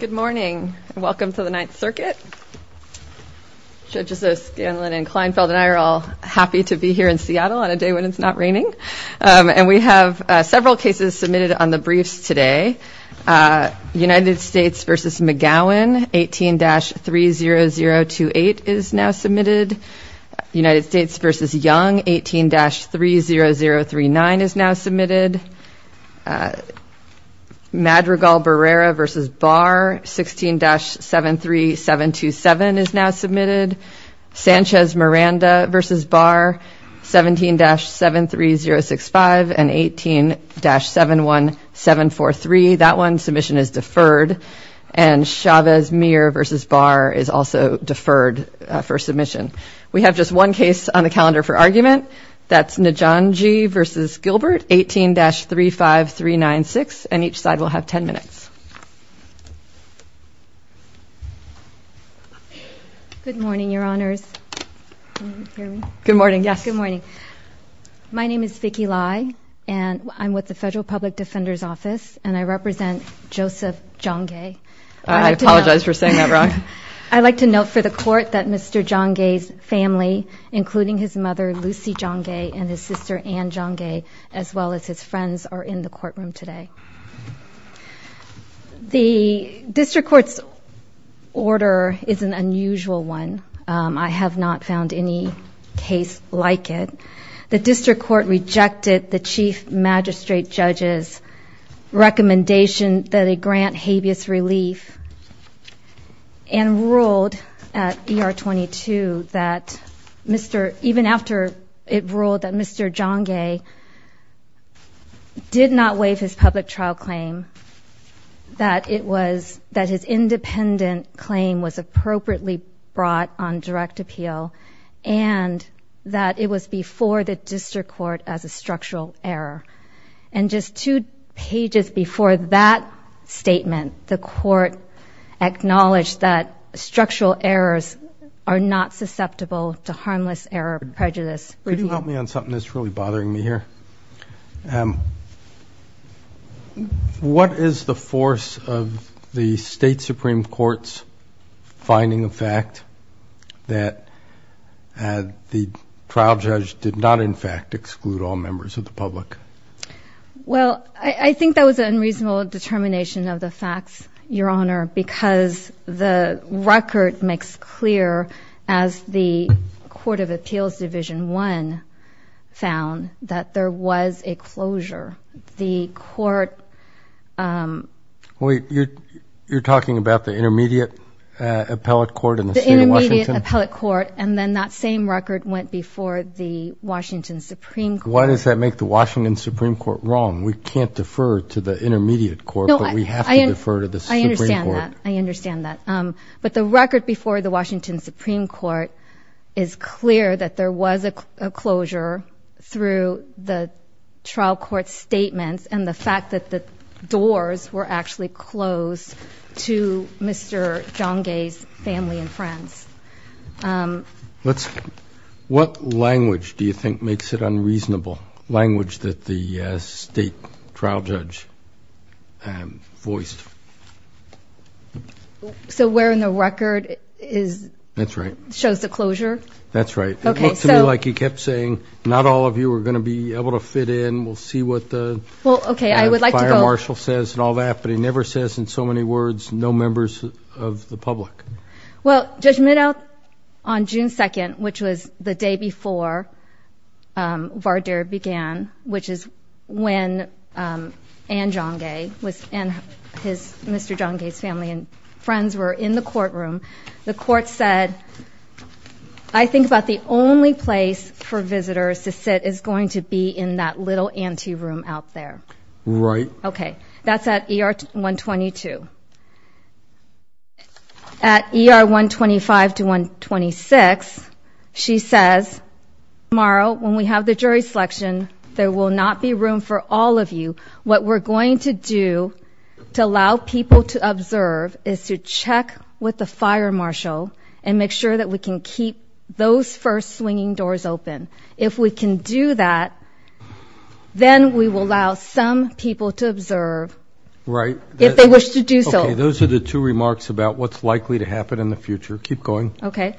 Good morning and welcome to the Ninth Circuit. Judges O'Scanlan and Kleinfeld and I are all happy to be here in Seattle on a day when it's not raining. And we have several cases submitted on the briefs today. United States v. McGowan, 18-30028 is now submitted. United States v. Young, 18-30039 is now submitted. Madrigal-Berrera v. Barr, 16-73727 is now submitted. Sanchez-Miranda v. Barr, 17-73065 and 18-71743. That one, submission is deferred. And Chavez-Muir v. Barr is also deferred for 15-35396. And each side will have 10 minutes. Good morning, your honors. Can you hear me? Good morning. Yes. Good morning. My name is Vicky Lai and I'm with the Federal Public Defender's Office and I represent Joseph Njonge. I apologize for saying that wrong. I'd like to note for the court that Mr. Njonge's family, including his mother, Lucy Njonge, and his sister, Ann Njonge, as well as his friends, are in the courtroom today. The District Court's order is an unusual one. I have not found any case like it. The District Court rejected the Chief Magistrate Judge's recommendation that it grant habeas relief and ruled at ER-22 that Mr. — even after it ruled that Mr. Njonge did not waive his public trial claim, that it was — that his independent claim was appropriately brought on direct appeal and that it was before the District Court as a structural error. And just two pages before that statement, the court acknowledged that structural errors are not susceptible to harmless error prejudice. Could you help me on something that's really bothering me here? What is the force of the State Supreme Court's finding of fact that the trial judge did not, in fact, exclude all members of the public? Well, I think that was an unreasonable determination of the facts, Your Honor, because the record makes clear, as the Court of Appeals Division 1 found, that there was a closure. The court — Wait, you're talking about the Intermediate Appellate Court in the state of Washington? The Intermediate Appellate Court, and then that same record went before the Washington Supreme Court. Why does that make the Washington Supreme Court wrong? We can't defer to the Intermediate Court, but we have to defer to the Supreme Court. I understand that. I understand that. But the record before the Washington Supreme Court is clear that there was a closure through the trial court's statements and the fact that the doors were actually closed to Mr. Njonge's family and friends. Let's — what language do you think makes it unreasonable? Language that the state trial judge voiced? So where in the record is — That's right. — shows the closure? That's right. Okay, so — It looks to me like he kept saying, not all of you are going to be able to fit in. We'll see what the — Well, okay, I would like to go —— fire marshal says and all that, but he never says in so many words, no members of the public. Well, Judge Meadow, on June 2nd, which was the day before Vardir began, which is when Njonge was — and his — Mr. Njonge's family and friends were in the courtroom. The court said, I think about the only place for visitors to sit is going to be in that little ante room out there. Right. Okay. That's at ER-122. At ER-125 to 126, she says, tomorrow, when we have the jury selection, there will not be room for all of you. What we're going to do to allow people to observe is to check with the fire marshal and make sure that we can keep those first swinging doors open. If we can do that, then we will allow some people to observe — Right. — if they wish to do so. Those are the two remarks about what's likely to happen in the future. Keep going. Okay.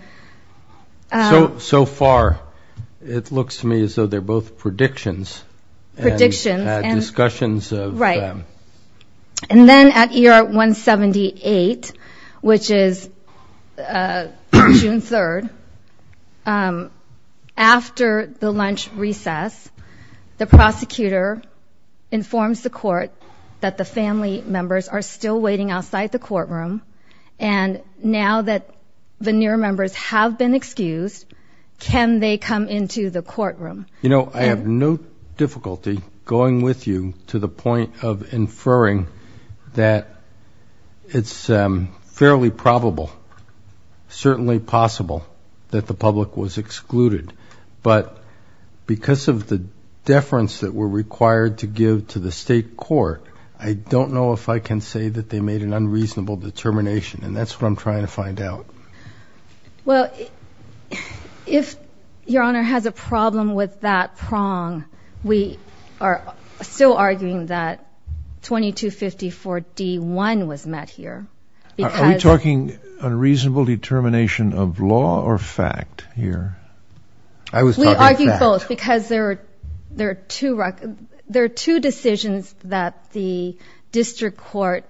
So far, it looks to me as though they're both predictions. Predictions. And discussions of — Right. And then at ER-178, which is June 3rd, after the lunch recess, the prosecutor informs the court that the family members are still waiting outside the courtroom. And now that veneer members have been excused, can they come into the courtroom? You know, I have no difficulty going with you to the point of inferring that it's fairly probable, certainly possible, that the public was excluded. But because of the deference that we're required to give to the state court, I don't know if I can say that they made an unreasonable determination. And that's what I'm trying to find out. Well, if Your Honor has a problem with that prong, we are still arguing that 2254-D1 was met here. Are we talking unreasonable determination of law or fact here? I was talking fact. We argue both, because there are two decisions that the district court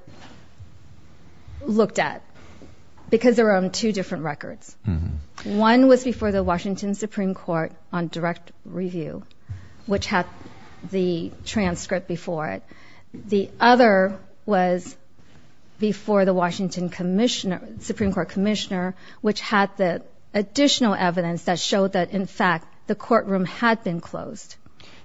looked at, because they were on two different records. One was before the Washington Supreme Court on direct review, which had the transcript before it. The other was before the Washington Supreme Court commissioner, which had the additional evidence that showed that, in fact, the courtroom had been closed.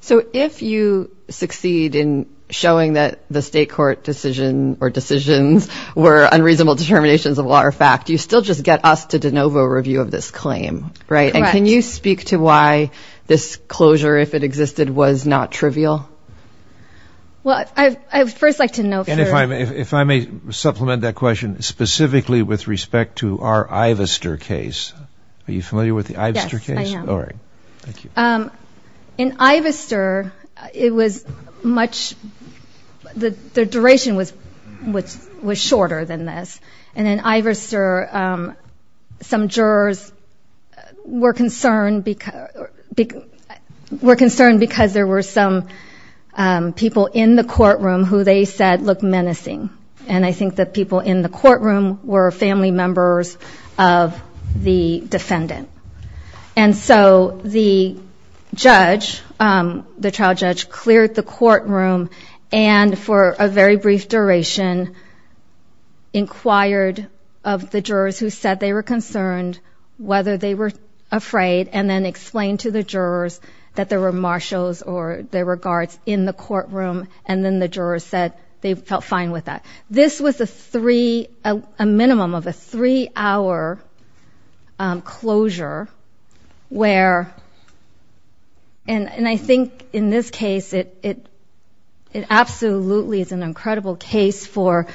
So if you succeed in showing that the state court decision or decisions were unreasonable determinations of law or fact, you still just get us to de novo review of this claim, right? And can you speak to why this closure, if it existed, was not trivial? Well, I would first like to know... If I may supplement that question specifically with respect to our Ivester case. Are you familiar with the Ivester case? Yes, I am. All right. Thank you. In Ivester, it was much... the duration was shorter than this. And in Ivester, some jurors were concerned because there were some people in the courtroom who they said looked menacing. And I think that people in the courtroom were family members of the defendant. And so the judge, the trial judge, cleared the courtroom and for a very brief duration inquired of the jurors who said they were concerned, whether they were afraid, and then explained to the jurors that there were marshals or there were guards in the courtroom. And then the jurors said they felt fine with that. This was a three... a minimum of a three-hour closure where... And I think in this case, it absolutely is an incredible case for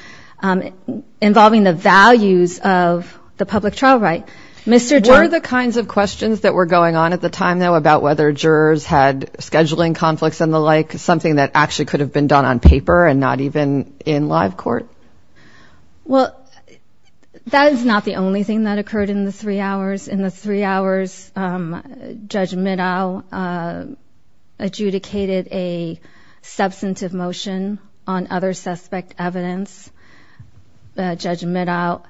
involving the values of the public trial right. Were the kinds of questions that were going on at the time, though, about whether jurors had scheduling conflicts and the like, something that actually could have been done on paper and not even in live court? Well, that is not the only thing that occurred in the three hours. In the three hours, Judge Middow adjudicated a substantive motion on other suspect evidence. Judge Middow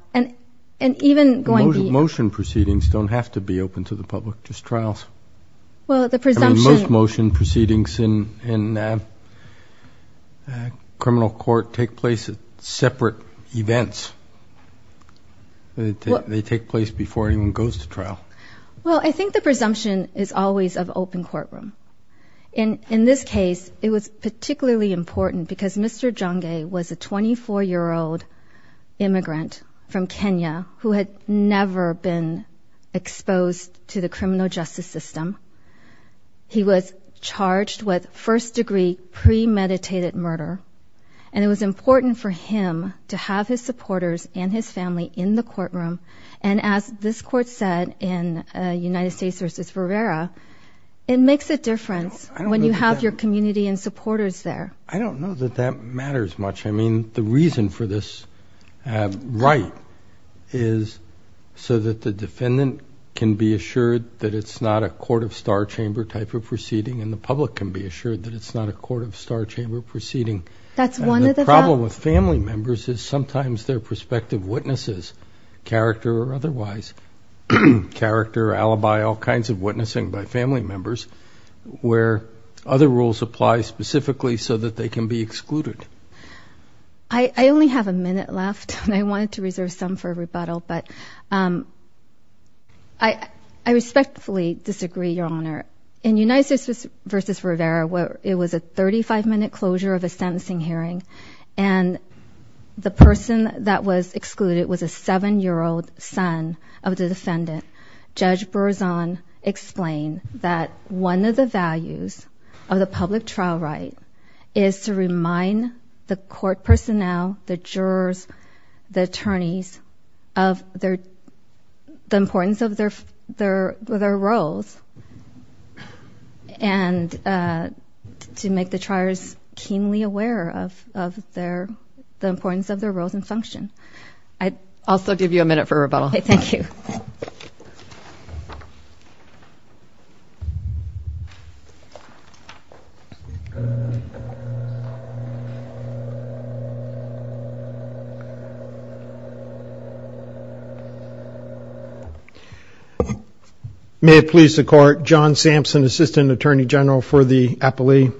and even going... Most motion proceedings don't have to be open to the public, just trials. Well, the presumption... Most motion proceedings in criminal court take place at separate events. They take place before anyone goes to trial. Well, I think the presumption is always of open courtroom. And in this case, it was particularly important because Mr. Jongae was a 24-year-old immigrant from Kenya who had never been exposed to the criminal justice system. He was charged with first-degree premeditated murder. And it was important for him to have his supporters and his family in the courtroom. And as this court said in United States v. Rivera, it makes a difference when you have your community and supporters there. I don't know that that matters much. I mean, the reason for this right is so that the defendant can be assured that it's not a court of star chamber type of proceeding and the public can be assured that it's not a court of star chamber proceeding. That's one of the... And the problem with family members is sometimes they're prospective witnesses, character or otherwise, character, alibi, all kinds of witnessing by family members where other rules apply specifically so that they can be excluded. I only have a minute left. I wanted to reserve some for rebuttal, but I respectfully disagree, Your Honor. In United States v. Rivera, it was a 35-minute closure of a sentencing hearing. And the person that was excluded was a 7-year-old son of the defendant. Judge Berzon explained that one of the values of the public trial right is to remind the court personnel, the jurors, the attorneys of the importance of their roles and to make the triers keenly aware of the importance of their roles and function. I also give you a minute for rebuttal. Thank you. May it please the court. John Sampson, Assistant Attorney General for the Appellee.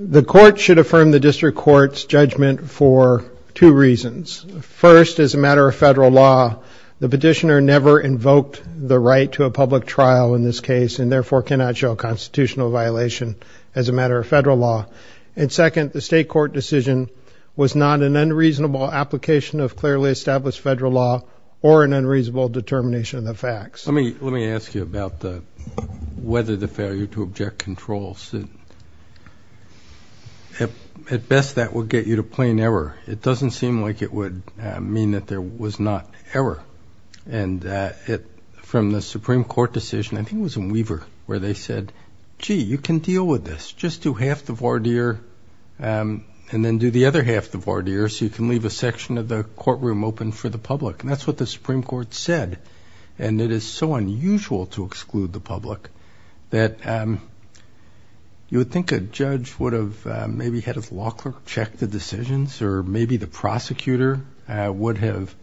The court should affirm the district court's judgment for two reasons. First, as a matter of federal law, the petitioner never invoked the right to a public trial in this case and therefore cannot show a constitutional violation as a matter of federal law. And second, the state court decision was not an unreasonable application of clearly established federal law or an unreasonable determination of the facts. Let me ask you about whether the failure to object control suit. At best, that will get you to plain error. It doesn't seem like it would mean that there was not error. And from the Supreme Court decision, I think it was in Weaver where they said, gee, you can deal with this. Just do half the voir dire and then do the other half the voir dire so you can leave a section of the courtroom open for the public. And that's what the Supreme Court said. And it is so unusual to exclude the public that you would think a judge would have maybe checked the decisions or maybe the prosecutor would have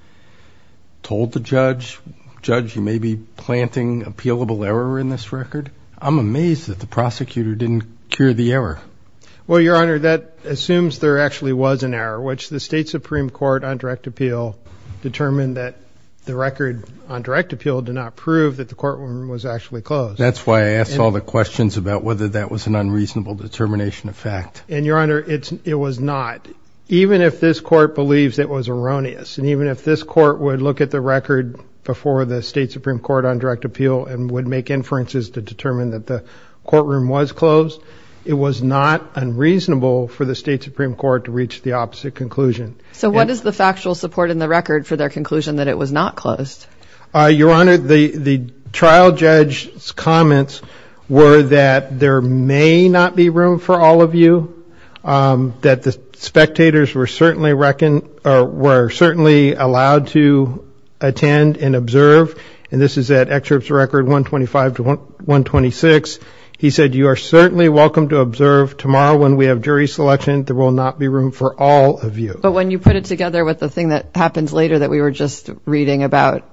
told the judge, judge, you may be planting appealable error in this record. I'm amazed that the prosecutor didn't cure the error. Well, Your Honor, that assumes there actually was an error, which the state Supreme Court on direct appeal determined that the record on direct appeal did not prove that the courtroom was actually closed. That's why I asked all the questions about whether that was an unreasonable determination of fact. And Your Honor, it was not. Even if this court believes it was erroneous and even if this court would look at the record before the state Supreme Court on direct appeal and would make inferences to determine that the courtroom was closed, it was not unreasonable for the state Supreme Court to reach the opposite conclusion. So what is the factual support in the record for their conclusion that it was not closed? Your Honor, the trial judge's comments were that there may not be room for all of you. That the spectators were certainly reckoned or were certainly allowed to attend and observe. And this is at excerpts record 125 to 126. He said, you are certainly welcome to observe tomorrow when we have jury selection. There will not be room for all of you. But when you put it together with the thing that happens later that we were just reading about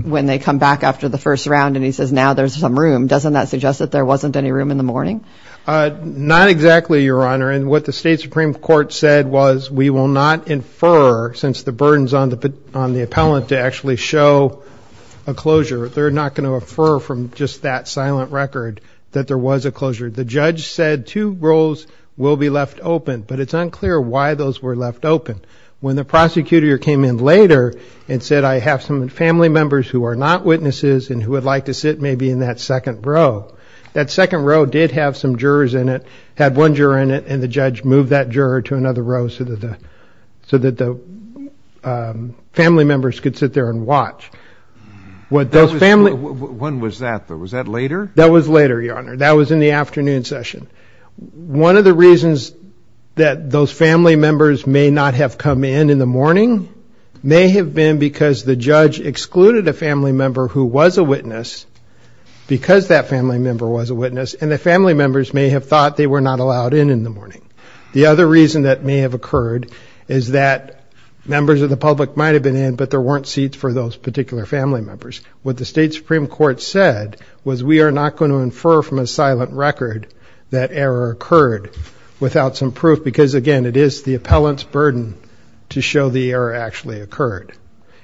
when they come back after the first round and he says now there's some room, doesn't that suggest that there wasn't any room in the morning? Not exactly, Your Honor. And what the state Supreme Court said was we will not infer since the burden's on the appellant to actually show a closure. They're not going to infer from just that silent record that there was a closure. The judge said two rows will be left open. But it's unclear why those were left open. When the prosecutor came in later and said I have some family members who are not witnesses and who would like to sit maybe in that second row. That second row did have some jurors in it. Had one juror in it. And the judge moved that juror to another row so that the family members could sit there and watch. When was that though? Was that later? That was later, Your Honor. That was in the afternoon session. One of the reasons that those family members may not have come in in the morning may have been because the judge excluded a family member who was a witness because that family member was a witness. And the family members may have thought they were not allowed in in the morning. The other reason that may have occurred is that members of the public might have been in but there weren't seats for those particular family members. What the state Supreme Court said was we are not going to infer from a silent record that error occurred without some proof. Because again, it is the appellant's burden to show the error actually occurred.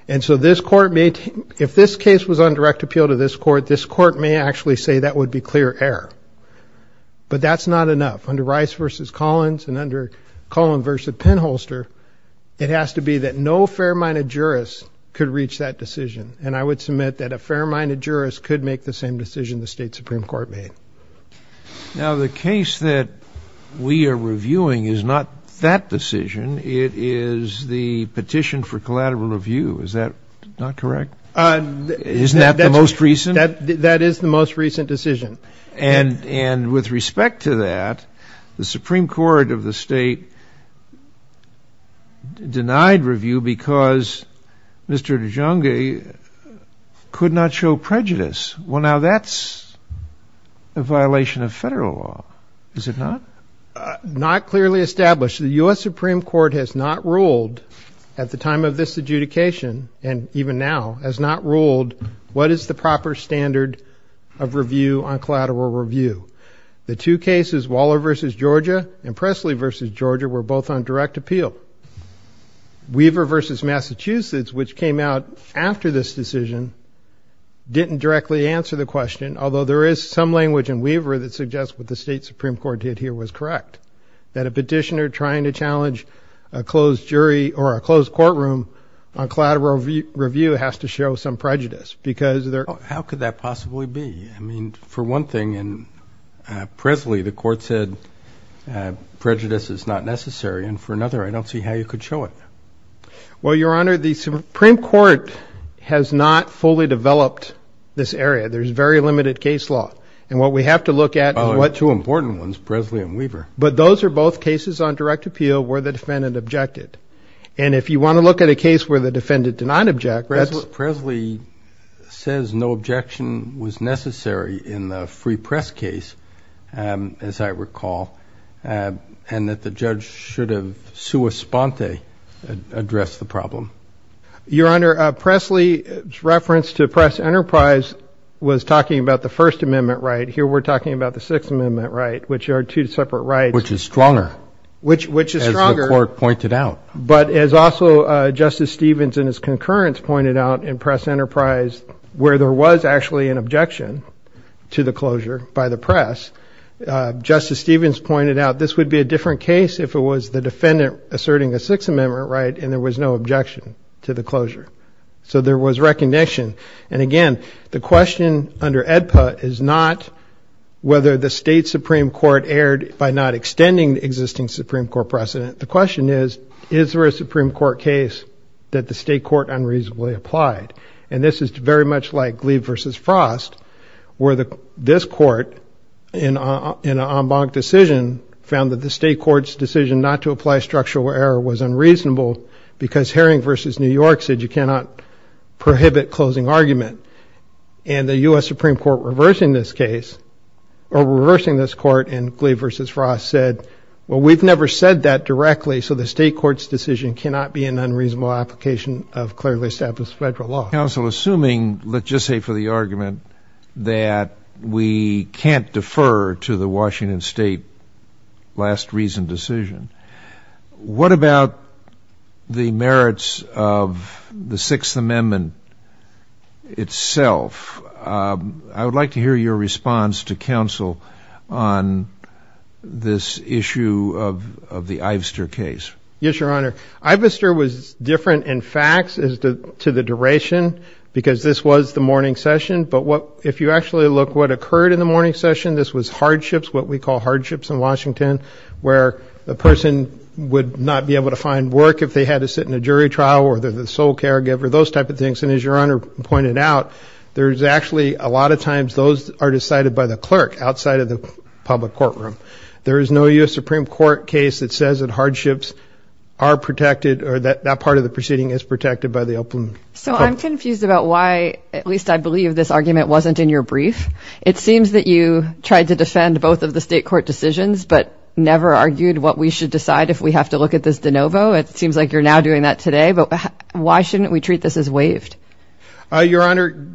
And so if this case was on direct appeal to this court, this court may actually say that would be clear error. But that's not enough. Under Rice v. Collins and under Cullen v. Penholster, it has to be that no fair-minded jurist could reach that decision. And I would submit that a fair-minded jurist could make the same decision the state Supreme Court made. Now the case that we are reviewing is not that decision. It is the petition for collateral review. Is that not correct? Isn't that the most recent? That is the most recent decision. And with respect to that, the Supreme Court of the state denied review because Mr. Dijonge could not show prejudice. Well, now that's a violation of federal law, is it not? Not clearly established. The US Supreme Court has not ruled at the time of this adjudication, and even now, has not ruled what is the proper standard of review on collateral review. The two cases, Waller v. Georgia and Presley v. Georgia, were both on direct appeal. Weaver v. Massachusetts, which came out after this decision, didn't directly answer the question, although there is some language in Weaver that suggests what the state Supreme Court did here was correct. That a petitioner trying to challenge a closed jury or a closed courtroom on collateral review has to show some prejudice because they're... How could that possibly be? I mean, for one thing, in Presley, the court said prejudice is not necessary. And for another, I don't see how you could show it. Well, Your Honor, the Supreme Court has not fully developed this area. There's very limited case law. And what we have to look at is what... Two important ones, Presley and Weaver. Those are both cases on direct appeal where the defendant objected. And if you want to look at a case where the defendant did not object, that's... Presley says no objection was necessary in the free press case, as I recall, and that the judge should have sua sponte addressed the problem. Your Honor, Presley's reference to press enterprise was talking about the First Amendment right. Here, we're talking about the Sixth Amendment right, which are two separate rights. Which is stronger, as the court pointed out. But as also Justice Stevens and his concurrence pointed out in press enterprise, where there was actually an objection to the closure by the press, Justice Stevens pointed out this would be a different case if it was the defendant asserting a Sixth Amendment right and there was no objection to the closure. So there was recognition. And again, the question under AEDPA is not whether the state Supreme Court erred by not extending the existing Supreme Court precedent. The question is, is there a Supreme Court case that the state court unreasonably applied? And this is very much like Gleave versus Frost, where this court in an en banc decision found that the state court's decision not to apply structural error was unreasonable because Herring versus New York said you cannot prohibit closing argument. And the US Supreme Court reversing this case, or reversing this court in Gleave versus Frost said, well, we've never said that directly. So the state court's decision cannot be an unreasonable application of clearly established federal law. Counsel, assuming, let's just say for the argument, that we can't defer to the Washington state last reason decision, what about the merits of the Sixth Amendment itself? I would like to hear your response to counsel on this issue of the Ivester case. Yes, Your Honor. Ivester was different in facts as to the duration, because this was the morning session. But if you actually look what occurred in the morning session, this was hardships, what we call hardships in Washington, where the person would not be able to find work if they had to sit in a jury trial, or they're the sole caregiver, those type of things. And as Your Honor pointed out, there's actually a lot of times those are decided by the clerk outside of the public courtroom. There is no US Supreme Court case that says that hardships are protected, or that that part of the proceeding is protected by the open court. So I'm confused about why, at least I believe this argument wasn't in your brief. It seems that you tried to defend both of the state court decisions, but never argued what we should decide if we have to look at this de novo. It seems like you're now doing that today. But why shouldn't we treat this as waived? Your Honor,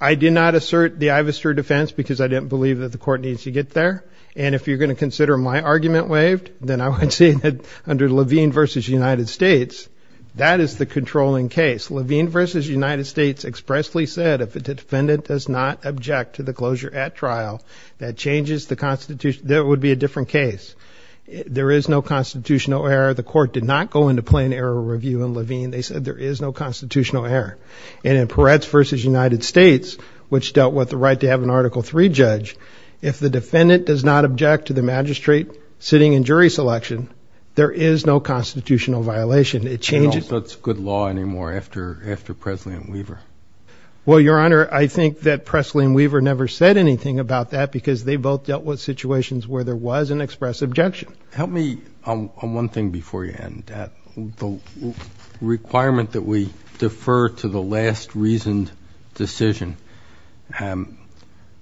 I did not assert the Ivester defense because I didn't believe that the court needs to get there. And if you're going to consider my argument waived, then I would say that under Levine v. United States, that is the controlling case. Levine v. United States expressly said, if a defendant does not object to the closure at trial, that changes the Constitution. There would be a different case. There is no constitutional error. The court did not go into plain error review in Levine. They said there is no constitutional error. And in Peretz v. United States, which dealt with the right to have an Article III judge, if the defendant does not object to the magistrate sitting in jury selection, there is no constitutional violation. It changes. That's good law anymore after Presley and Weaver. Well, Your Honor, I think that Presley and Weaver never said anything about that because they both dealt with situations where there was an express objection. Help me on one thing before you end, the requirement that we defer to the last reasoned decision.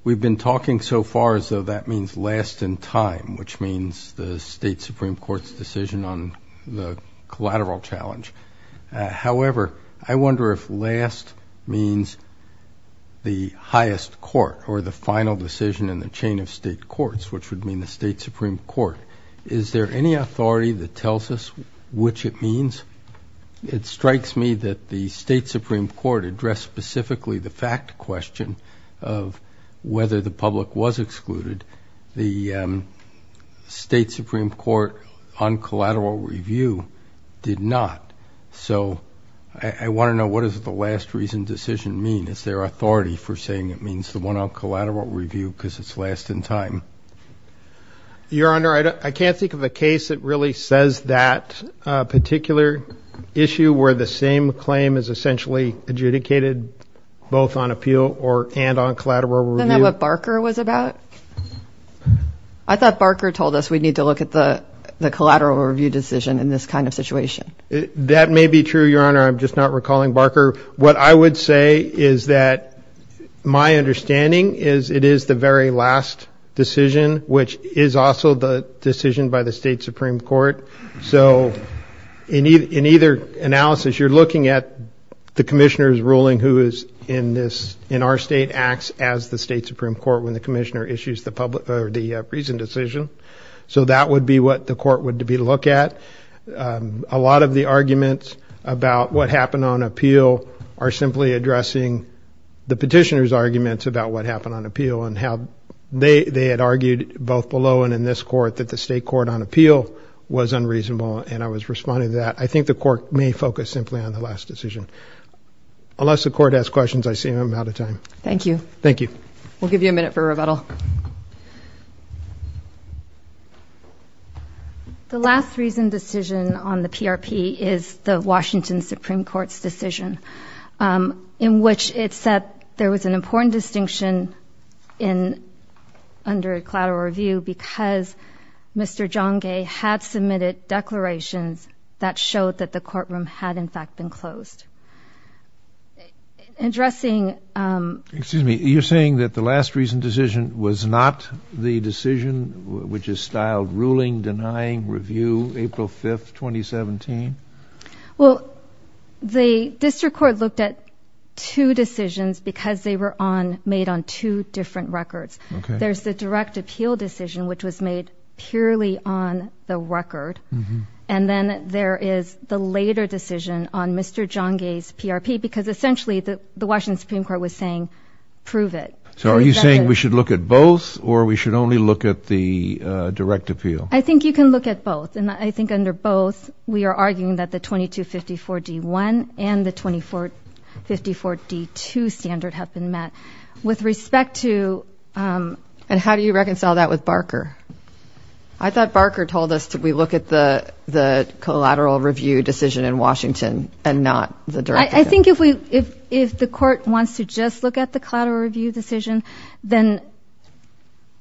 We've been talking so far as though that means last in time, which means the state Supreme Court's decision on the collateral challenge. However, I wonder if last means the highest court or the final decision in the chain of state courts, which would mean the state Supreme Court. Is there any authority that tells us which it means? It strikes me that the state Supreme Court addressed specifically the fact question of whether the public was excluded. The state Supreme Court on collateral review did not. So I want to know what does the last reasoned decision mean? Is there authority for saying it means the one on collateral review because it's last in time? Your Honor, I can't think of a case that really says that particular issue where the same claim is essentially adjudicated both on appeal and on collateral review. Isn't that what Barker was about? I thought Barker told us we need to look at the collateral review decision in this kind of situation. That may be true, Your Honor. I'm just not recalling Barker. What I would say is that my understanding is it is the very last decision, which is also the decision by the state Supreme Court. So in either analysis, you're looking at the commissioner's ruling who is in our state acts as the state Supreme Court when the commissioner issues the public or the reasoned decision. So that would be what the court would look at. A lot of the arguments about what happened on appeal are simply addressing the petitioner's arguments about what happened on appeal and how they had argued both below and in this court that the state court on appeal was unreasonable. And I was responding to that. I think the court may focus simply on the last decision. Unless the court has questions, I see I'm out of time. Thank you. Thank you. We'll give you a minute for rebuttal. The last reasoned decision on the PRP is the Washington Supreme Court's decision in which it said there was an important distinction in under a collateral review because Mr. John Gay had submitted declarations that showed that the courtroom had, in fact, been closed. Excuse me. You're saying that the last reasoned decision was not the decision which is styled ruling denying review April 5th, 2017? Well, the district court looked at two decisions because they were made on two different records. There's the direct appeal decision, which was made purely on the record. And then there is the later decision on Mr. John Gay's PRP because essentially the Washington Supreme Court was saying prove it. So are you saying we should look at both or we should only look at the direct appeal? I think you can look at both. And I think under both, we are arguing that the 2254 D1 and the 2454 D2 standard have been met. With respect to... And how do you reconcile that with Barker? I thought Barker told us that we look at the collateral review decision in Washington and not the direct appeal. I think if the court wants to just look at the collateral review decision, then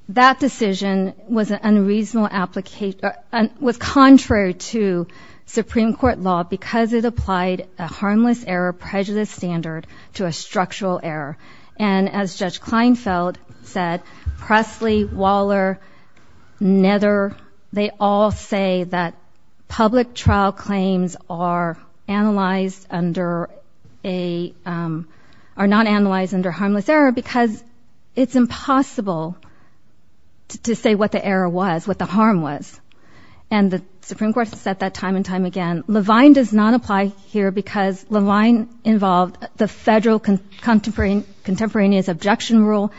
that decision was an unreasonable application... was contrary to Supreme Court law because it applied a harmless error prejudice standard to a structural error. And as Judge Kleinfeld said, Presley, Waller, Nether, they all say that public trial claims are analyzed under a... are not analyzed under harmless error because it's impossible to say what the error was, what the harm was. And the Supreme Court has said that time and time again. Levine does not apply here because Levine involved the federal contemporaneous objection rule.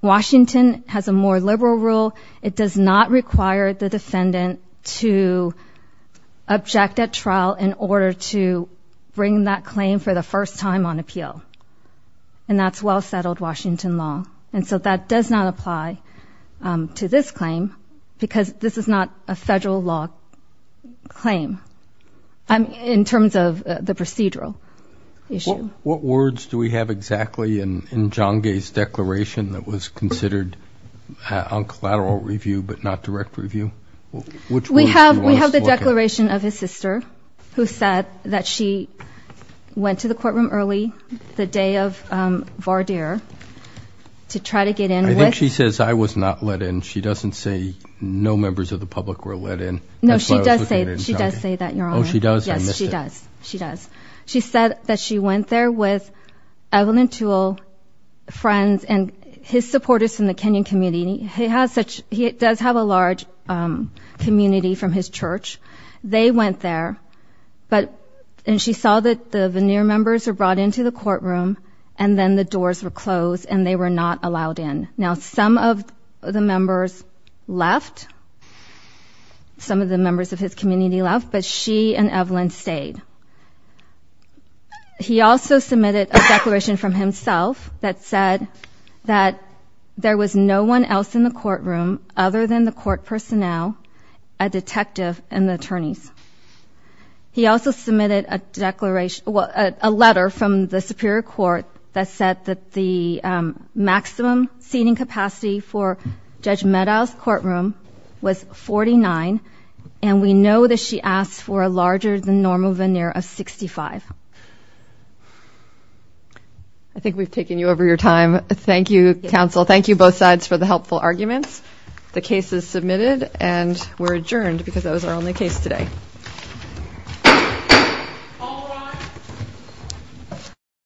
Washington has a more liberal rule. It does not require the defendant to object at trial in order to bring that claim for the first time on appeal. And that's well settled Washington law. And so that does not apply to this claim because this is not a federal law claim. In terms of the procedural issue. What words do we have exactly in Zhangge's declaration that was considered on collateral review, but not direct review? We have the declaration of his sister, who said that she went to the courtroom early the day of Vardir to try to get in. I think she says I was not let in. She doesn't say no members of the public were let in. No, she does say that. She does say that, Your Honor. Yes, she does. She does. She said that she went there with Evelyn Toole, friends, and his supporters from the Kenyan community. He does have a large community from his church. They went there. But and she saw that the veneer members were brought into the courtroom and then the doors were closed and they were not allowed in. Now, some of the members left. Some of the members of his community left. But she and Evelyn stayed. He also submitted a declaration from himself that said that there was no one else in the courtroom other than the court personnel, a detective, and the attorneys. He also submitted a letter from the Superior Court that said that the maximum seating capacity for Judge Medow's courtroom was 49. And we know that she asked for a larger than normal veneer of 65. I think we've taken you over your time. Thank you, counsel. Thank you both sides for the helpful arguments. The case is submitted and we're adjourned because that was our only case today.